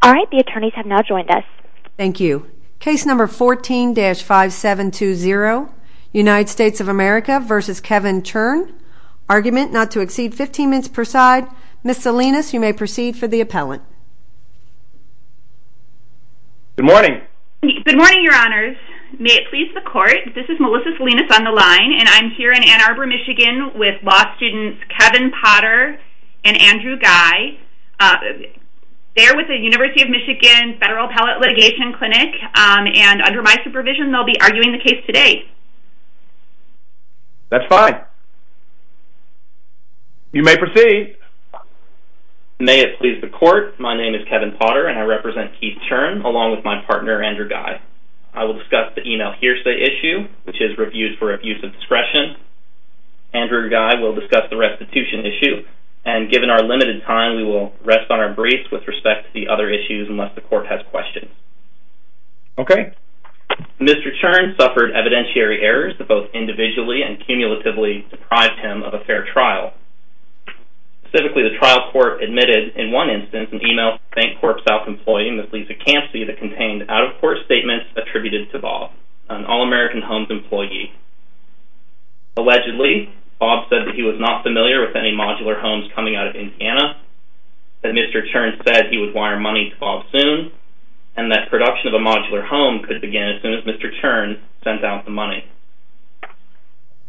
All right, the attorneys have now joined us. Thank you. Case number 14-5720, United States of America v. Kevin Churn. Argument not to exceed 15 minutes per side. Ms. Salinas, you may proceed for the appellant. Good morning. Good morning, your honors. May it please the court, this is Melissa Salinas on the line, and I'm here in Ann Arbor, Michigan with law students Kevin Potter and Andrew Guy. They're with the University of Michigan Federal Appellate Litigation Clinic, and under my supervision, they'll be arguing the case today. That's fine. You may proceed. May it please the court, my name is Kevin Potter, and I represent Keith Churn along with my partner Andrew Guy. I will discuss the email hearsay issue, which is reviewed for abuse of discretion. Andrew Guy will discuss the restitution issue, and given our limited time, we will rest on our briefs with respect to the other issues unless the court has questions. Okay. Mr. Churn suffered evidentiary errors that both individually and cumulatively deprived him of a fair trial. Specifically, the trial court admitted, in one instance, an email to a Bank Corp South employee, Ms. Lisa Campsey, that contained out-of-court statements attributed to Bob, an All-American Homes employee. Allegedly, Bob said that he was not familiar with any modular homes coming out of Indiana, that Mr. Churn said he would wire money to Bob soon, and that production of a modular home could begin as soon as Mr. Churn sent out the money.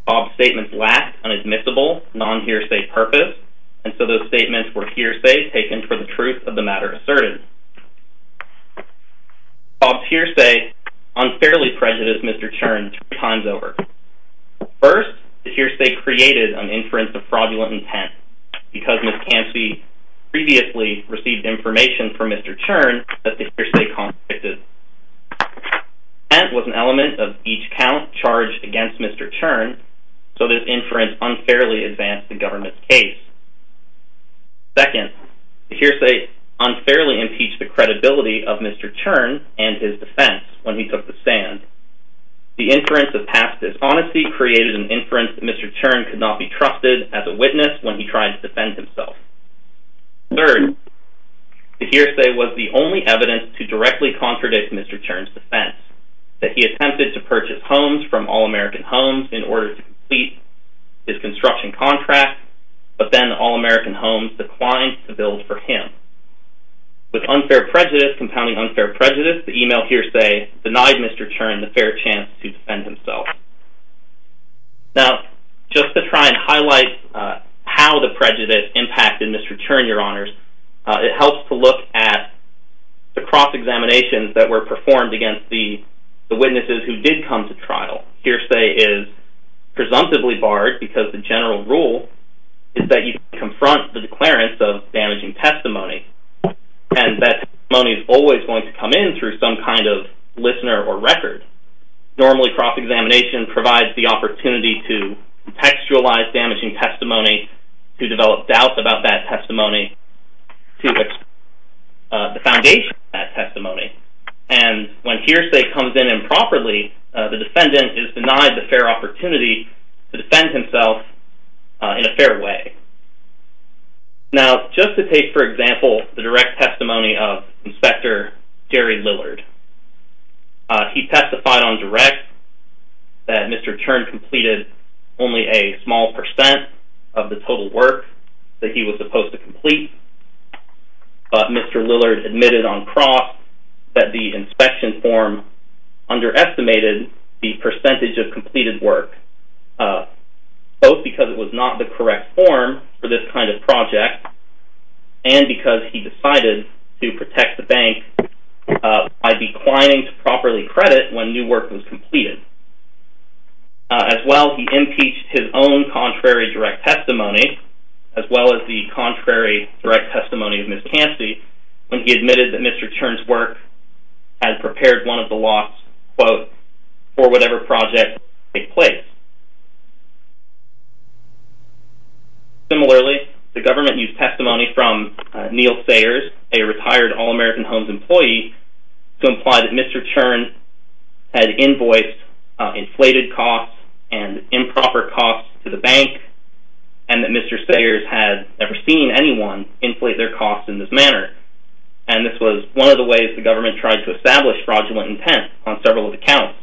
Bob's statements lacked an admissible, non-hearsay purpose, and so those statements were hearsay taken for the truth of the matter asserted. Bob's hearsay unfairly prejudiced Mr. Churn two times over. First, the hearsay created an inference of fraudulent intent, because Ms. Campsey previously received information from Mr. Churn that the hearsay contradicted. The intent was an element of each count charged against Mr. Churn, so this inference unfairly advanced the government's case. Second, the hearsay unfairly impeached the credibility of Mr. Churn and his defense when he took the stand. The inference of past dishonesty created an inference that Mr. Churn could not be trusted as a witness when he tried to defend himself. Third, the hearsay was the only evidence to directly contradict Mr. Churn's defense, that he attempted to purchase homes from All American Homes in order to complete his construction contract, but then All American Homes declined to build for him. With unfair prejudice compounding unfair prejudice, the email hearsay denied Mr. Churn the fair chance to defend himself. Now, just to try and highlight how the prejudice impacted Mr. Churn, Your Honors, it helps to look at the cross-examinations that were performed against the witnesses who did come to trial. Hearsay is presumptively barred because the general rule is that you confront the declarants of damaging testimony, and that testimony is always going to come in through some kind of listener or record. Normally, cross-examination provides the opportunity to contextualize damaging testimony, to develop doubt about that testimony, to explore the foundation of that testimony. And when hearsay comes in improperly, the defendant is denied the fair opportunity to defend himself in a fair way. Now, just to take, for example, the direct testimony of Inspector Jerry Lillard. He testified on direct that Mr. Churn completed only a small percent of the total work that he was supposed to complete, but Mr. Lillard admitted on cross that the inspection form underestimated the percentage of completed work. Both because it was not the correct form for this kind of project, and because he decided to protect the bank by declining to properly credit when new work was completed. As well, he impeached his own contrary direct testimony, as well as the contrary direct testimony of Ms. Cancey, when he admitted that Mr. Churn's work had prepared one of the lots, quote, for whatever project took place. Similarly, the government used testimony from Neil Sayers, a retired All-American Homes employee, to imply that Mr. Churn had invoiced inflated costs and improper costs to the bank, and that Mr. Sayers had never seen anyone inflate their costs in this manner. And this was one of the ways the government tried to establish fraudulent intent on several accounts.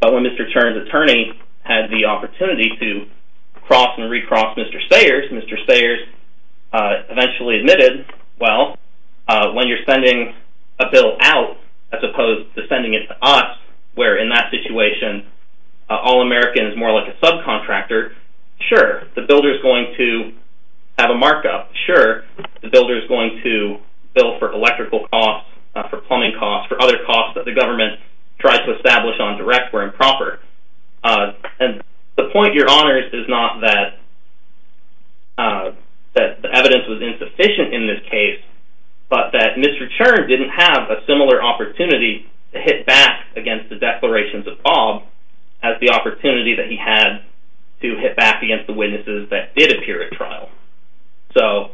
But when Mr. Churn's attorney had the opportunity to cross and recross Mr. Sayers, Mr. Sayers eventually admitted, well, when you're sending a bill out, as opposed to sending it to us, where in that situation, All-American is more like a subcontractor, sure, the builder's going to have a markup. Sure, the builder's going to bill for electrical costs, for plumbing costs, for other costs that the government tried to establish on direct were improper. And the point you're honoring is not that the evidence was insufficient in this case, but that Mr. Churn didn't have a similar opportunity to hit back against the declarations of Bob as the opportunity that he had to hit back against the witnesses that did appear at trial. So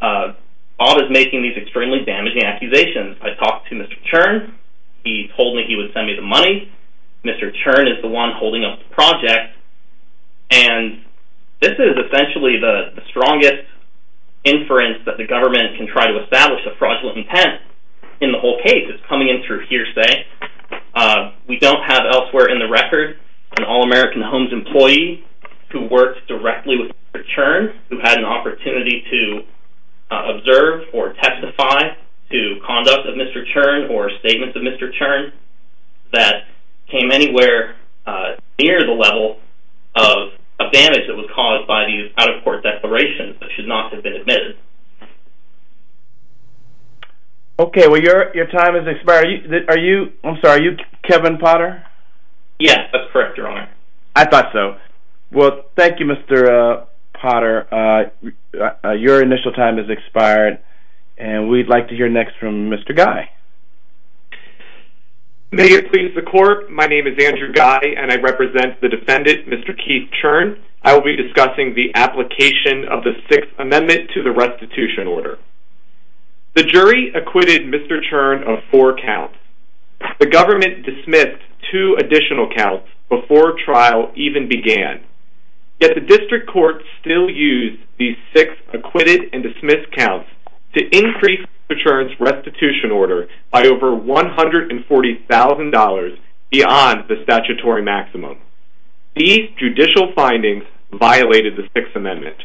Bob is making these extremely damaging accusations. I talked to Mr. Churn. He told me he would send me the money. Mr. Churn is the one holding up the project. And this is essentially the strongest inference that the government can try to establish of fraudulent intent in the whole case. We don't have elsewhere in the record an All-American Homes employee who worked directly with Mr. Churn, who had an opportunity to observe or testify to conduct of Mr. Churn or statements of Mr. Churn that came anywhere near the level of damage that was caused by these out-of-court declarations that should not have been admitted. Okay, well, your time has expired. Are you Kevin Potter? Yes, that's correct, Your Honor. I thought so. Well, thank you, Mr. Potter. Your initial time has expired, and we'd like to hear next from Mr. Guy. May it please the Court, my name is Andrew Guy, and I represent the defendant, Mr. Keith Churn. I will be discussing the application of the Sixth Amendment to the restitution order. The jury acquitted Mr. Churn of four counts. The government dismissed two additional counts before trial even began. Yet the district court still used these six acquitted and dismissed counts to increase Mr. Churn's restitution order by over $140,000 beyond the statutory maximum. These judicial findings violated the Sixth Amendment.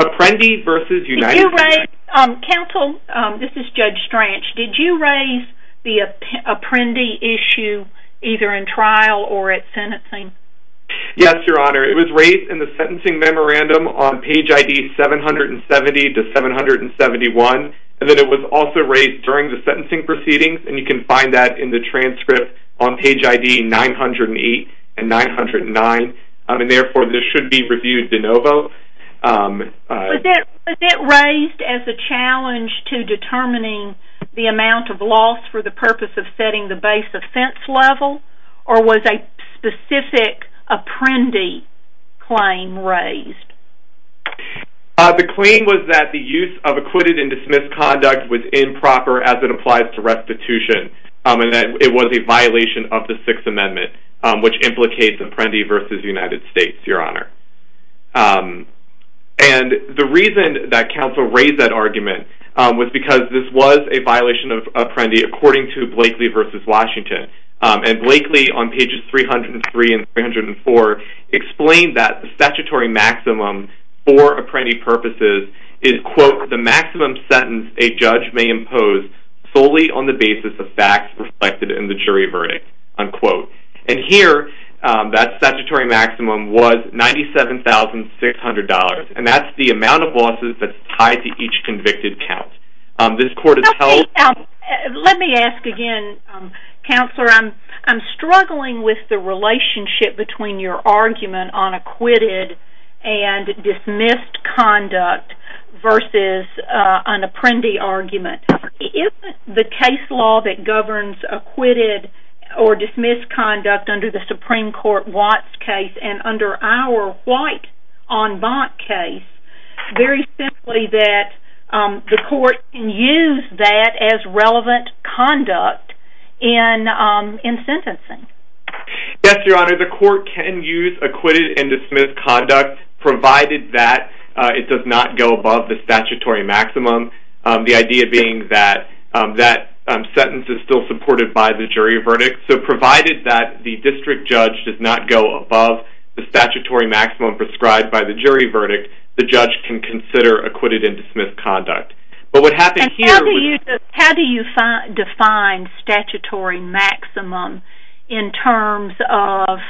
Apprendi versus United States… Counsel, this is Judge Stranch. Did you raise the Apprendi issue either in trial or at sentencing? Yes, Your Honor. It was raised in the sentencing memorandum on page ID 770 to 771, and then it was also raised during the sentencing proceedings, and you can find that in the transcript on page ID 908 and 909, and therefore this should be reviewed de novo. Was it raised as a challenge to determining the amount of loss for the purpose of setting the base offense level, or was a specific Apprendi claim raised? The claim was that the use of acquitted and dismissed conduct was improper as it applies to restitution, and that it was a violation of the Sixth Amendment, which implicates Apprendi versus United States, Your Honor. And the reason that counsel raised that argument was because this was a violation of Apprendi according to Blakely versus Washington, and Blakely on pages 303 and 304 explained that the statutory maximum for Apprendi purposes is, quote, the maximum sentence a judge may impose solely on the basis of facts reflected in the jury verdict, unquote. And here, that statutory maximum was $97,600, and that's the amount of losses that's tied to each convicted count. Let me ask again, Counselor, I'm struggling with the relationship between your argument on acquitted and dismissed conduct versus an Apprendi argument. Isn't the case law that governs acquitted or dismissed conduct under the Supreme Court Watts case and under our white en banc case, very simply that the court can use that as relevant conduct in sentencing? Yes, Your Honor, the court can use acquitted and dismissed conduct, provided that it does not go above the statutory maximum, the idea being that that sentence is still supported by the jury verdict. So provided that the district judge does not go above the statutory maximum prescribed by the jury verdict, the judge can consider acquitted and dismissed conduct. But what happened here was- And how do you define statutory maximum in terms of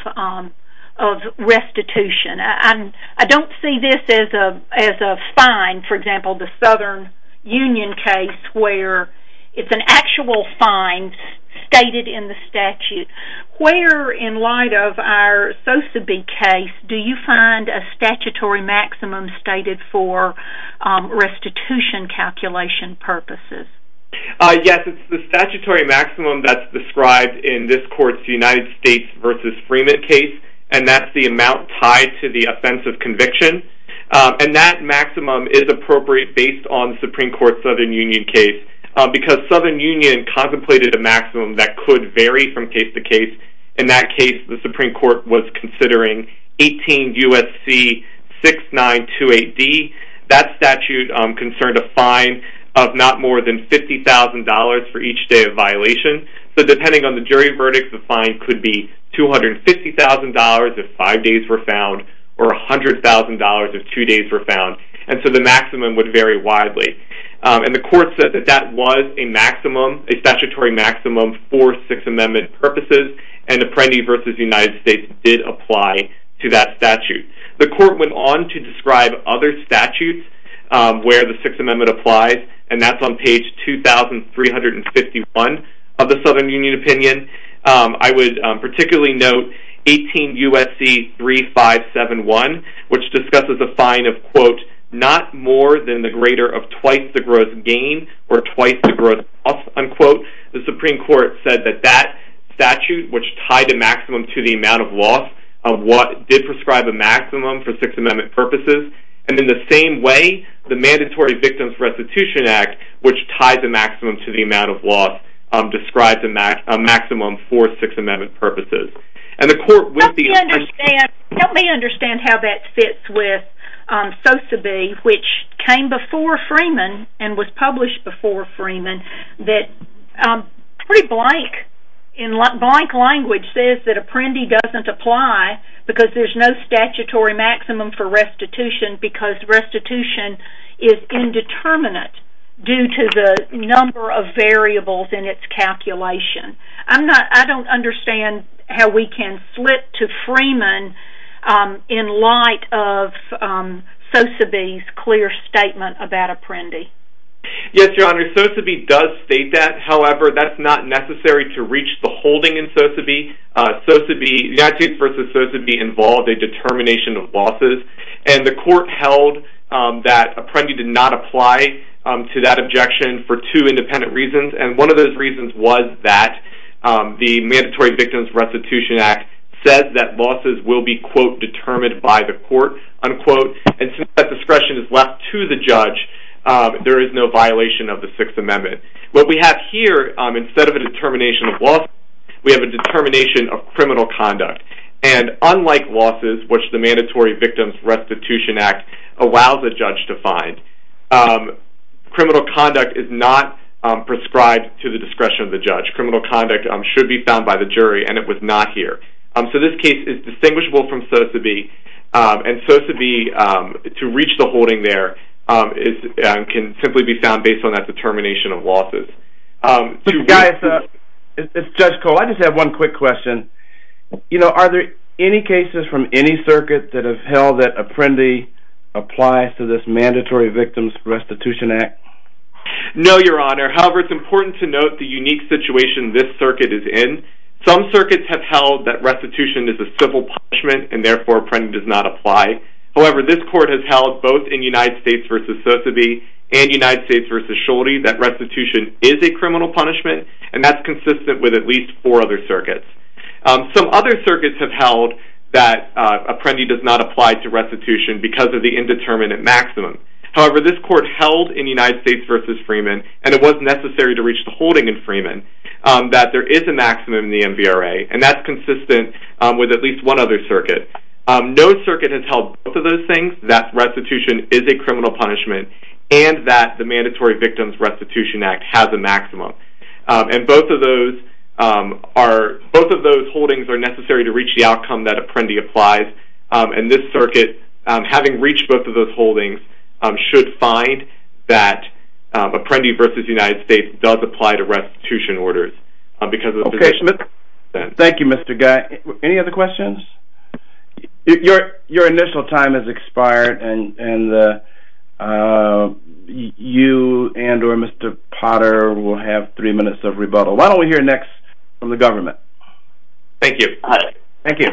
restitution? I don't see this as a fine. For example, the Southern Union case where it's an actual fine stated in the statute. Where, in light of our Sosebee case, do you find a statutory maximum stated for restitution calculation purposes? Yes, it's the statutory maximum that's described in this court's United States v. Freeman case, and that's the amount tied to the offense of conviction. And that maximum is appropriate based on the Supreme Court Southern Union case, because Southern Union contemplated a maximum that could vary from case to case. In that case, the Supreme Court was considering 18 U.S.C. 6928D. That statute concerned a fine of not more than $50,000 for each day of violation. So depending on the jury verdict, the fine could be $250,000 if five days were found, or $100,000 if two days were found. And so the maximum would vary widely. And the court said that that was a statutory maximum for Sixth Amendment purposes, and Apprendi v. United States did apply to that statute. The court went on to describe other statutes where the Sixth Amendment applies, and that's on page 2351 of the Southern Union opinion. I would particularly note 18 U.S.C. 3571, which discusses a fine of, quote, not more than the greater of twice the gross gain or twice the gross loss, unquote. The Supreme Court said that that statute, which tied a maximum to the amount of loss, did prescribe a maximum for Sixth Amendment purposes. And in the same way, the Mandatory Victims Restitution Act, which ties a maximum to the amount of loss, describes a maximum for Sixth Amendment purposes. And the court would be- Help me understand how that fits with SOSAB, which came before Freeman and was published before Freeman, that pretty blank, in blank language, says that Apprendi doesn't apply because there's no statutory maximum for restitution because restitution is indeterminate due to the number of variables in its calculation. I don't understand how we can flip to Freeman in light of SOSAB's clear statement about Apprendi. Yes, Your Honor, SOSAB does state that. However, that's not necessary to reach the holding in SOSAB. United States v. SOSAB involved a determination of losses, and the court held that Apprendi did not apply to that objection for two independent reasons. And one of those reasons was that the Mandatory Victims Restitution Act said that losses will be, quote, determined by the court, unquote. And since that discretion is left to the judge, there is no violation of the Sixth Amendment. What we have here, instead of a determination of losses, we have a determination of criminal conduct. And unlike losses, which the Mandatory Victims Restitution Act allows a judge to find, criminal conduct is not prescribed to the discretion of the judge. Criminal conduct should be found by the jury, and it was not here. So this case is distinguishable from SOSAB, and SOSAB, to reach the holding there, can simply be found based on that determination of losses. Guys, it's Judge Cole. I just have one quick question. Are there any cases from any circuit that have held that Apprendi applies to this Mandatory Victims Restitution Act? No, Your Honor. However, it's important to note the unique situation this circuit is in. Some circuits have held that restitution is a civil punishment, and therefore Apprendi does not apply. However, this court has held both in United States v. SOSAB and United States v. Schulte that restitution is a criminal punishment, and that's consistent with at least four other circuits. Some other circuits have held that Apprendi does not apply to restitution because of the indeterminate maximum. However, this court held in United States v. Freeman, and it was necessary to reach the holding in Freeman, that there is a maximum in the MVRA, and that's consistent with at least one other circuit. No circuit has held both of those things, that restitution is a criminal punishment, and that the Mandatory Victims Restitution Act has a maximum. And both of those holdings are necessary to reach the outcome that Apprendi applies, and this circuit, having reached both of those holdings, should find that Apprendi v. United States does apply to restitution orders. Okay, Schmidt. Thank you, Mr. Guy. Any other questions? Your initial time has expired, and you and or Mr. Potter will have three minutes of rebuttal. Why don't we hear next from the government? Thank you. Thank you.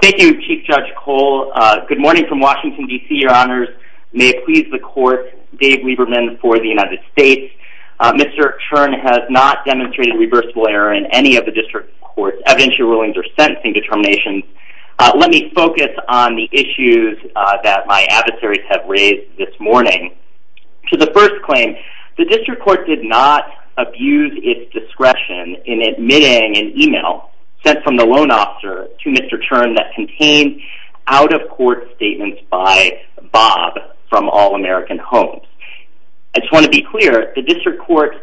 Thank you, Chief Judge Cole. Good morning from Washington, D.C., Your Honors. May it please the court, Dave Lieberman for the United States. Mr. Chern has not demonstrated reversible error in any of the district court's evidentiary rulings or sentencing determinations. Let me focus on the issues that my adversaries have raised this morning. To the first claim, the district court did not abuse its discretion in admitting an e-mail sent from the loan officer to Mr. Chern that contained out-of-court statements by Bob from All American Homes. I just want to be clear, the district court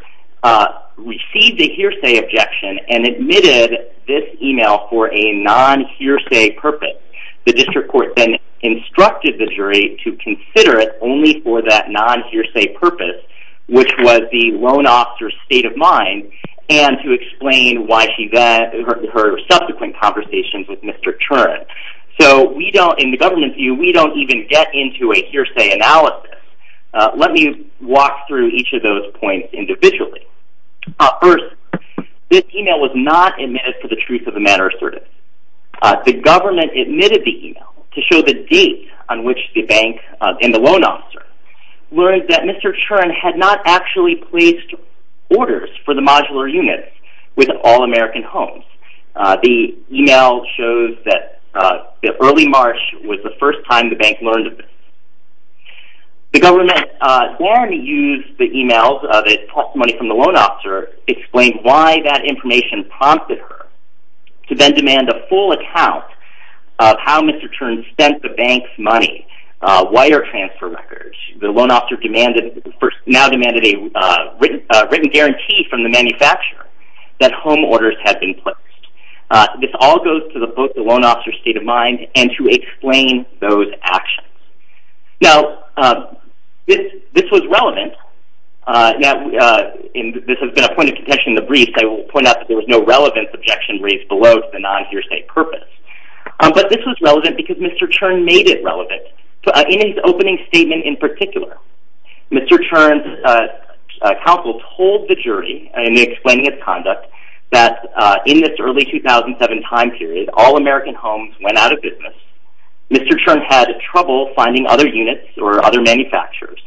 received a hearsay objection and admitted this e-mail for a non-hearsay purpose. The district court then instructed the jury to consider it only for that non-hearsay purpose, which was the loan officer's state of mind, and to explain her subsequent conversations with Mr. Chern. So, in the government's view, we don't even get into a hearsay analysis. Let me walk through each of those points individually. First, this e-mail was not admitted for the truth of the matter asserted. The government admitted the e-mail to show the date on which the bank and the loan officer learned that Mr. Chern had not actually placed orders for the modular units with All American Homes. The e-mail shows that early March was the first time the bank learned of this. The government then used the e-mails that it tossed money from the loan officer to explain why that information prompted her, to then demand a full account of how Mr. Chern spent the bank's money, wire transfer records. The loan officer now demanded a written guarantee from the manufacturer that home orders had been placed. This all goes to the loan officer's state of mind and to explain those actions. Now, this was relevant, and this has been a point of contention in the brief. I will point out that there was no relevance objection raised below to the non-hearsay purpose. But this was relevant because Mr. Chern made it relevant. In his opening statement in particular, Mr. Chern's counsel told the jury, in explaining his conduct, that in this early 2007 time period, when All American Homes went out of business, Mr. Chern had trouble finding other units or other manufacturers.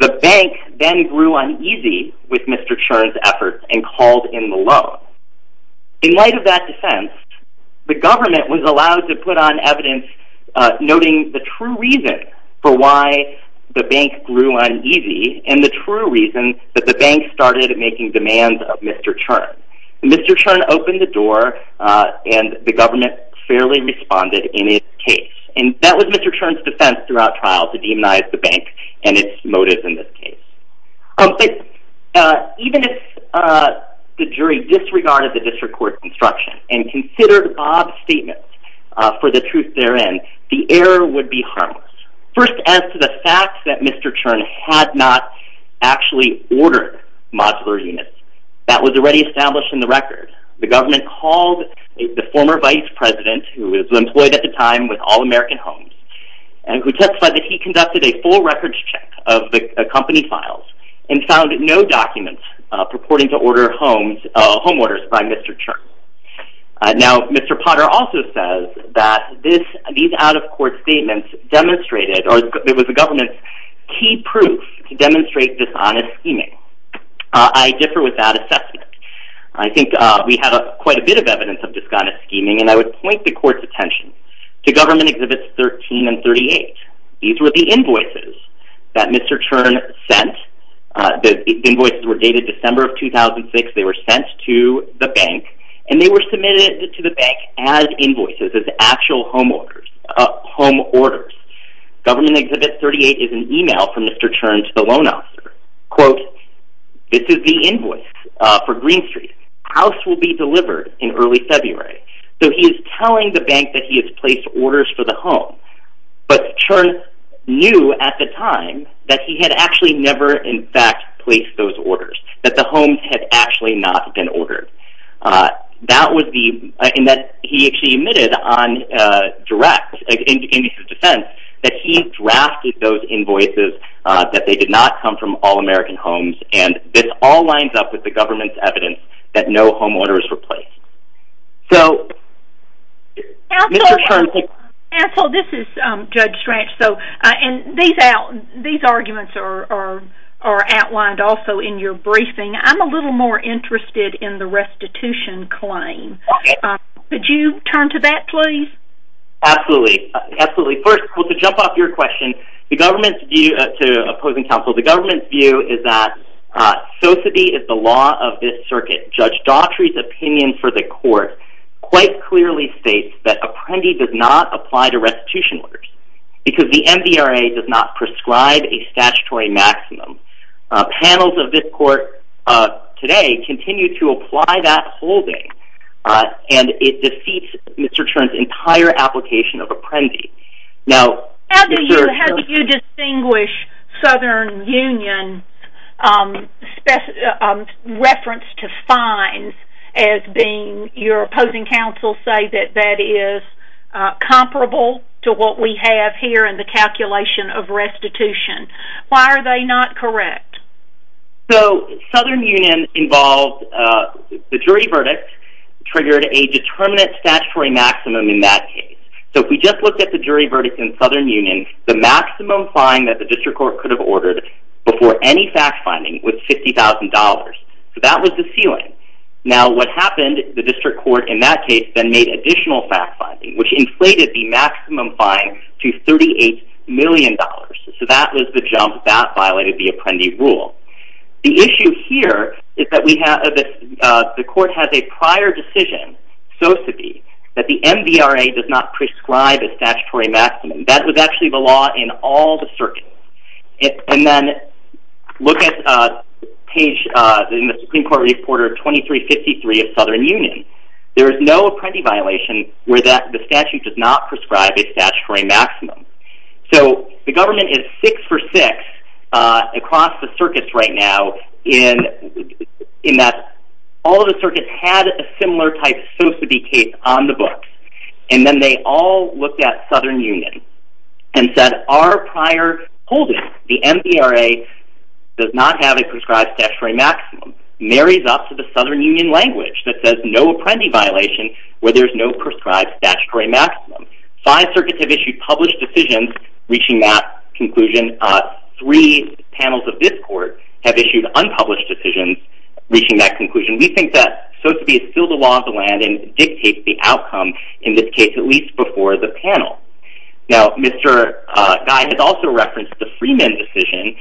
The bank then grew uneasy with Mr. Chern's efforts and called in the loan. In light of that defense, the government was allowed to put on evidence noting the true reason for why the bank grew uneasy and the true reason that the bank started making demands of Mr. Chern. Mr. Chern opened the door and the government fairly responded in his case. And that was Mr. Chern's defense throughout trial to demonize the bank and its motives in this case. Even if the jury disregarded the district court's instruction and considered Bob's statement for the truth therein, the error would be harmless. First, as to the fact that Mr. Chern had not actually ordered modular units, that was already established in the record. The government called the former vice president, who was employed at the time with All American Homes, and who testified that he conducted a full records check of the company files and found no documents purporting to order home orders by Mr. Chern. Now, Mr. Potter also says that these out-of-court statements demonstrated, or it was the government's key proof to demonstrate dishonest scheming. I differ with that assessment. I think we have quite a bit of evidence of dishonest scheming, and I would point the court's attention to Government Exhibits 13 and 38. These were the invoices that Mr. Chern sent. The invoices were dated December of 2006. They were sent to the bank, and they were submitted to the bank as invoices, as actual home orders. Government Exhibit 38 is an email from Mr. Chern to the loan officer. Quote, this is the invoice for Green Street. House will be delivered in early February. So he is telling the bank that he has placed orders for the home, but Chern knew at the time that he had actually never in fact placed those orders, that the homes had actually not been ordered. That was the—and that he actually admitted on direct, in his defense, that he drafted those invoices, that they did not come from all American homes, and this all lines up with the government's evidence that no home orders were placed. So Mr. Chern— Counsel, this is Judge Strach. These arguments are outlined also in your briefing. I'm a little more interested in the restitution claim. Could you turn to that, please? Absolutely. Absolutely. First, to jump off your question to opposing counsel, the government's view is that so-to-be is the law of this circuit. Judge Daughtry's opinion for the court quite clearly states that Apprendi did not apply to restitution orders because the MDRA does not prescribe a statutory maximum. Panels of this court today continue to apply that holding, and it defeats Mr. Chern's entire application of Apprendi. Now— How do you distinguish Southern Union's reference to fines as being your opposing counsel say that that is comparable to what we have here in the calculation of restitution? Why are they not correct? So Southern Union involved— The jury verdict triggered a determinate statutory maximum in that case. So if we just look at the jury verdict in Southern Union, the maximum fine that the district court could have ordered before any fact-finding was $50,000. So that was the ceiling. Now what happened, the district court in that case then made additional fact-finding, which inflated the maximum fine to $38 million. So that was the jump. That violated the Apprendi rule. The issue here is that the court has a prior decision, so to be, that the MDRA does not prescribe a statutory maximum. That was actually the law in all the circuits. And then look at page—in the Supreme Court Reporter 2353 of Southern Union. There is no Apprendi violation where the statute does not prescribe a statutory maximum. So the government is 6-for-6 across the circuits right now in that all the circuits had a similar type of society case on the books. And then they all looked at Southern Union and said our prior holding, the MDRA, does not have a prescribed statutory maximum. Marries up to the Southern Union language that says no Apprendi violation where there's no prescribed statutory maximum. Five circuits have issued published decisions reaching that conclusion. Three panels of this court have issued unpublished decisions reaching that conclusion. We think that so to be is still the law of the land and dictates the outcome, in this case, at least before the panel. Now, Mr. Guy has also referenced the Freeman decision.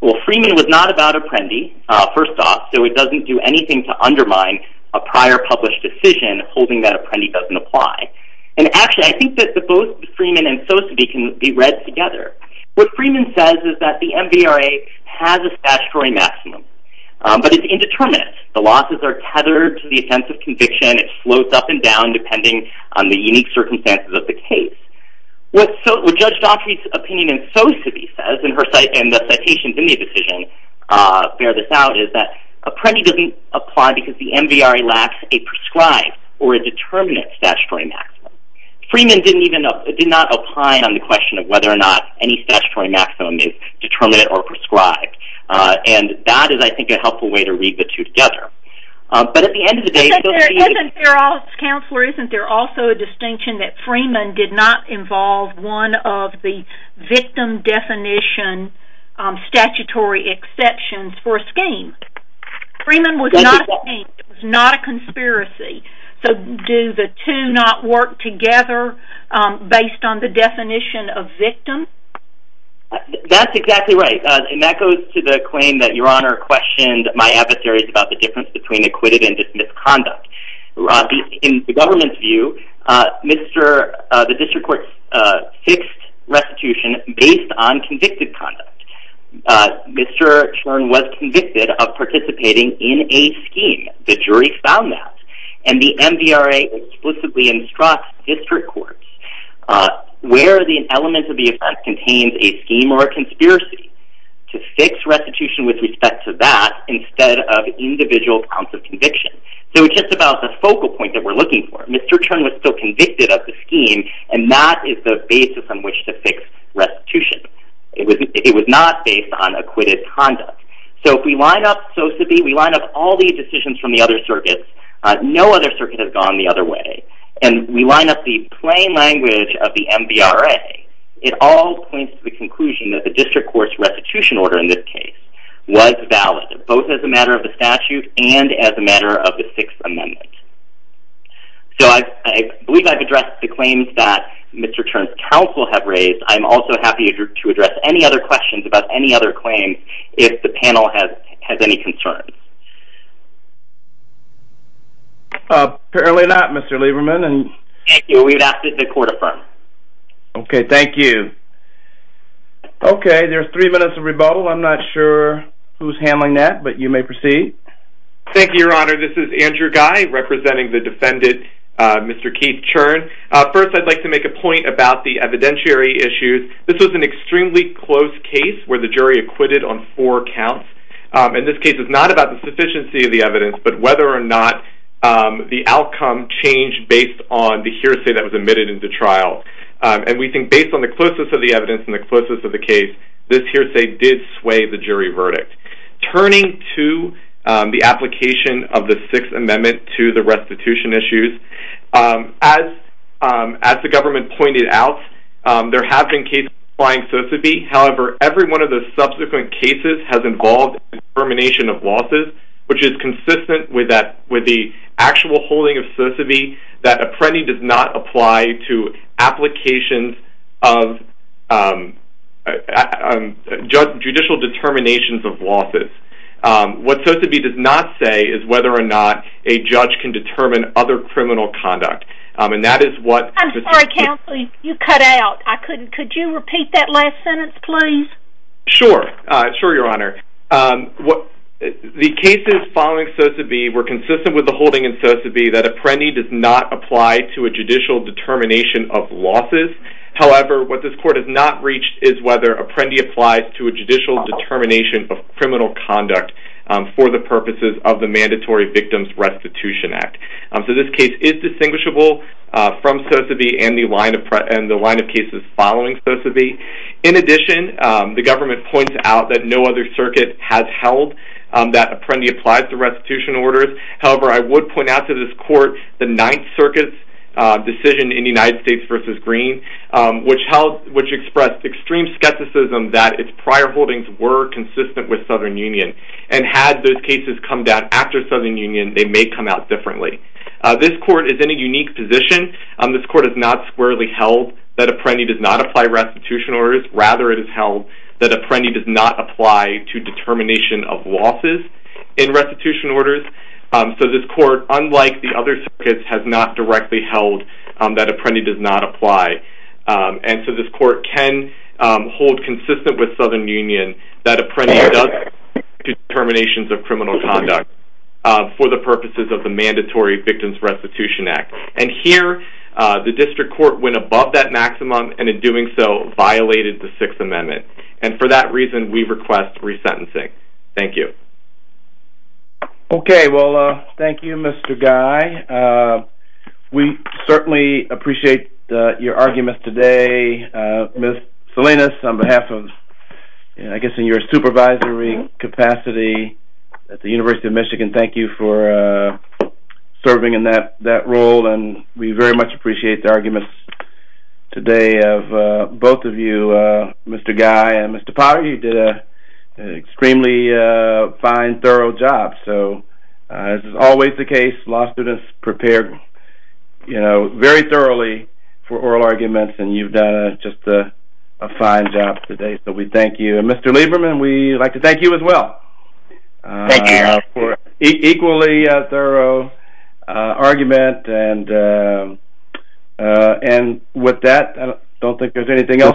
Well, Freeman was not about Apprendi, first off, so it doesn't do anything to undermine a prior published decision holding that Apprendi doesn't apply. And actually, I think that both Freeman and so to be can be read together. What Freeman says is that the MDRA has a statutory maximum, but it's indeterminate. The losses are tethered to the offense of conviction. It floats up and down depending on the unique circumstances of the case. What Judge Daugherty's opinion in so to be says and the citations in the decision bear this out is that Apprendi doesn't apply because the MDRA lacks a prescribed or a determinate statutory maximum. Freeman did not opine on the question of whether or not any statutory maximum is determinate or prescribed. And that is, I think, a helpful way to read the two together. Counselor, isn't there also a distinction that Freeman did not involve one of the victim definition statutory exceptions for a scheme? Freeman was not a scheme. It was not a conspiracy. So do the two not work together based on the definition of victim? That's exactly right. And that goes to the claim that Your Honor questioned my adversaries about the difference between acquitted and dismissed conduct. In the government's view, the district court fixed restitution based on convicted conduct. Mr. Chern was convicted of participating in a scheme. The jury found that. And the MDRA explicitly instructs district courts where the element of the offense contains a scheme or a conspiracy to fix restitution with respect to that instead of individual counts of conviction. So just about the focal point that we're looking for, Mr. Chern was still convicted of the scheme and that is the basis on which to fix restitution. It was not based on acquitted conduct. So if we line up SOSAB, we line up all the decisions from the other circuits, no other circuit has gone the other way, and we line up the plain language of the MDRA, it all points to the conclusion that the district court's restitution order in this case was valid, both as a matter of the statute and as a matter of the Sixth Amendment. So I believe I've addressed the claims that Mr. Chern's counsel have raised. I'm also happy to address any other questions about any other claims if the panel has any concerns. Apparently not, Mr. Lieberman. Thank you. We would ask that the court affirm. Okay, thank you. Okay, there's three minutes of rebuttal. I'm not sure who's handling that, but you may proceed. Thank you, Your Honor. This is Andrew Guy representing the defendant, Mr. Keith Chern. First, I'd like to make a point about the evidentiary issues. This was an extremely close case where the jury acquitted on four counts. In this case, it's not about the sufficiency of the evidence, but whether or not the outcome changed based on the hearsay that was admitted into trial. And we think based on the closeness of the evidence and the closeness of the case, this hearsay did sway the jury verdict. Turning to the application of the Sixth Amendment to the restitution issues, as the government pointed out, there have been cases applying SOCIB. However, every one of the subsequent cases has involved determination of losses, which is consistent with the actual holding of SOCIB that appending does not apply to applications of judicial determinations of losses. What SOCIB does not say is whether or not a judge can determine other criminal conduct. I'm sorry, counsel, you cut out. Could you repeat that last sentence, please? Sure, Your Honor. The cases following SOCIB were consistent with the holding in SOCIB that appending does not apply to a judicial determination of losses. However, what this court has not reached is whether appending applies to a judicial determination of criminal conduct for the purposes of the Mandatory Victims Restitution Act. So this case is distinguishable from SOCIB and the line of cases following SOCIB. In addition, the government points out that no other circuit has held that appending applies to restitution orders. However, I would point out to this court the Ninth Circuit's decision in the United States v. Green, which expressed extreme skepticism that its prior holdings were consistent with Southern Union. And had those cases come down after Southern Union, they may come out differently. This court is in a unique position. This court has not squarely held that appending does not apply to restitution orders. Rather, it has held that appending does not apply to determination of losses in restitution orders. So this court, unlike the other circuits, has not directly held that appending does not apply. And so this court can hold consistent with Southern Union that appending does apply to determinations of criminal conduct for the purposes of the Mandatory Victims Restitution Act. And here, the district court went above that maximum and in doing so violated the Sixth Amendment. And for that reason, we request resentencing. Thank you. Okay, well, thank you, Mr. Guy. We certainly appreciate your arguments today. Ms. Salinas, on behalf of, I guess, in your supervisory capacity at the University of Michigan, thank you for serving in that role. And we very much appreciate the arguments today of both of you, Mr. Guy and Mr. Potter. You did an extremely fine, thorough job. So as is always the case, law students prepare very thoroughly for oral arguments, and you've done just a fine job today. So we thank you. And, Mr. Lieberman, we'd like to thank you as well. Thank you. Equally thorough argument. And with that, I don't think there's anything else.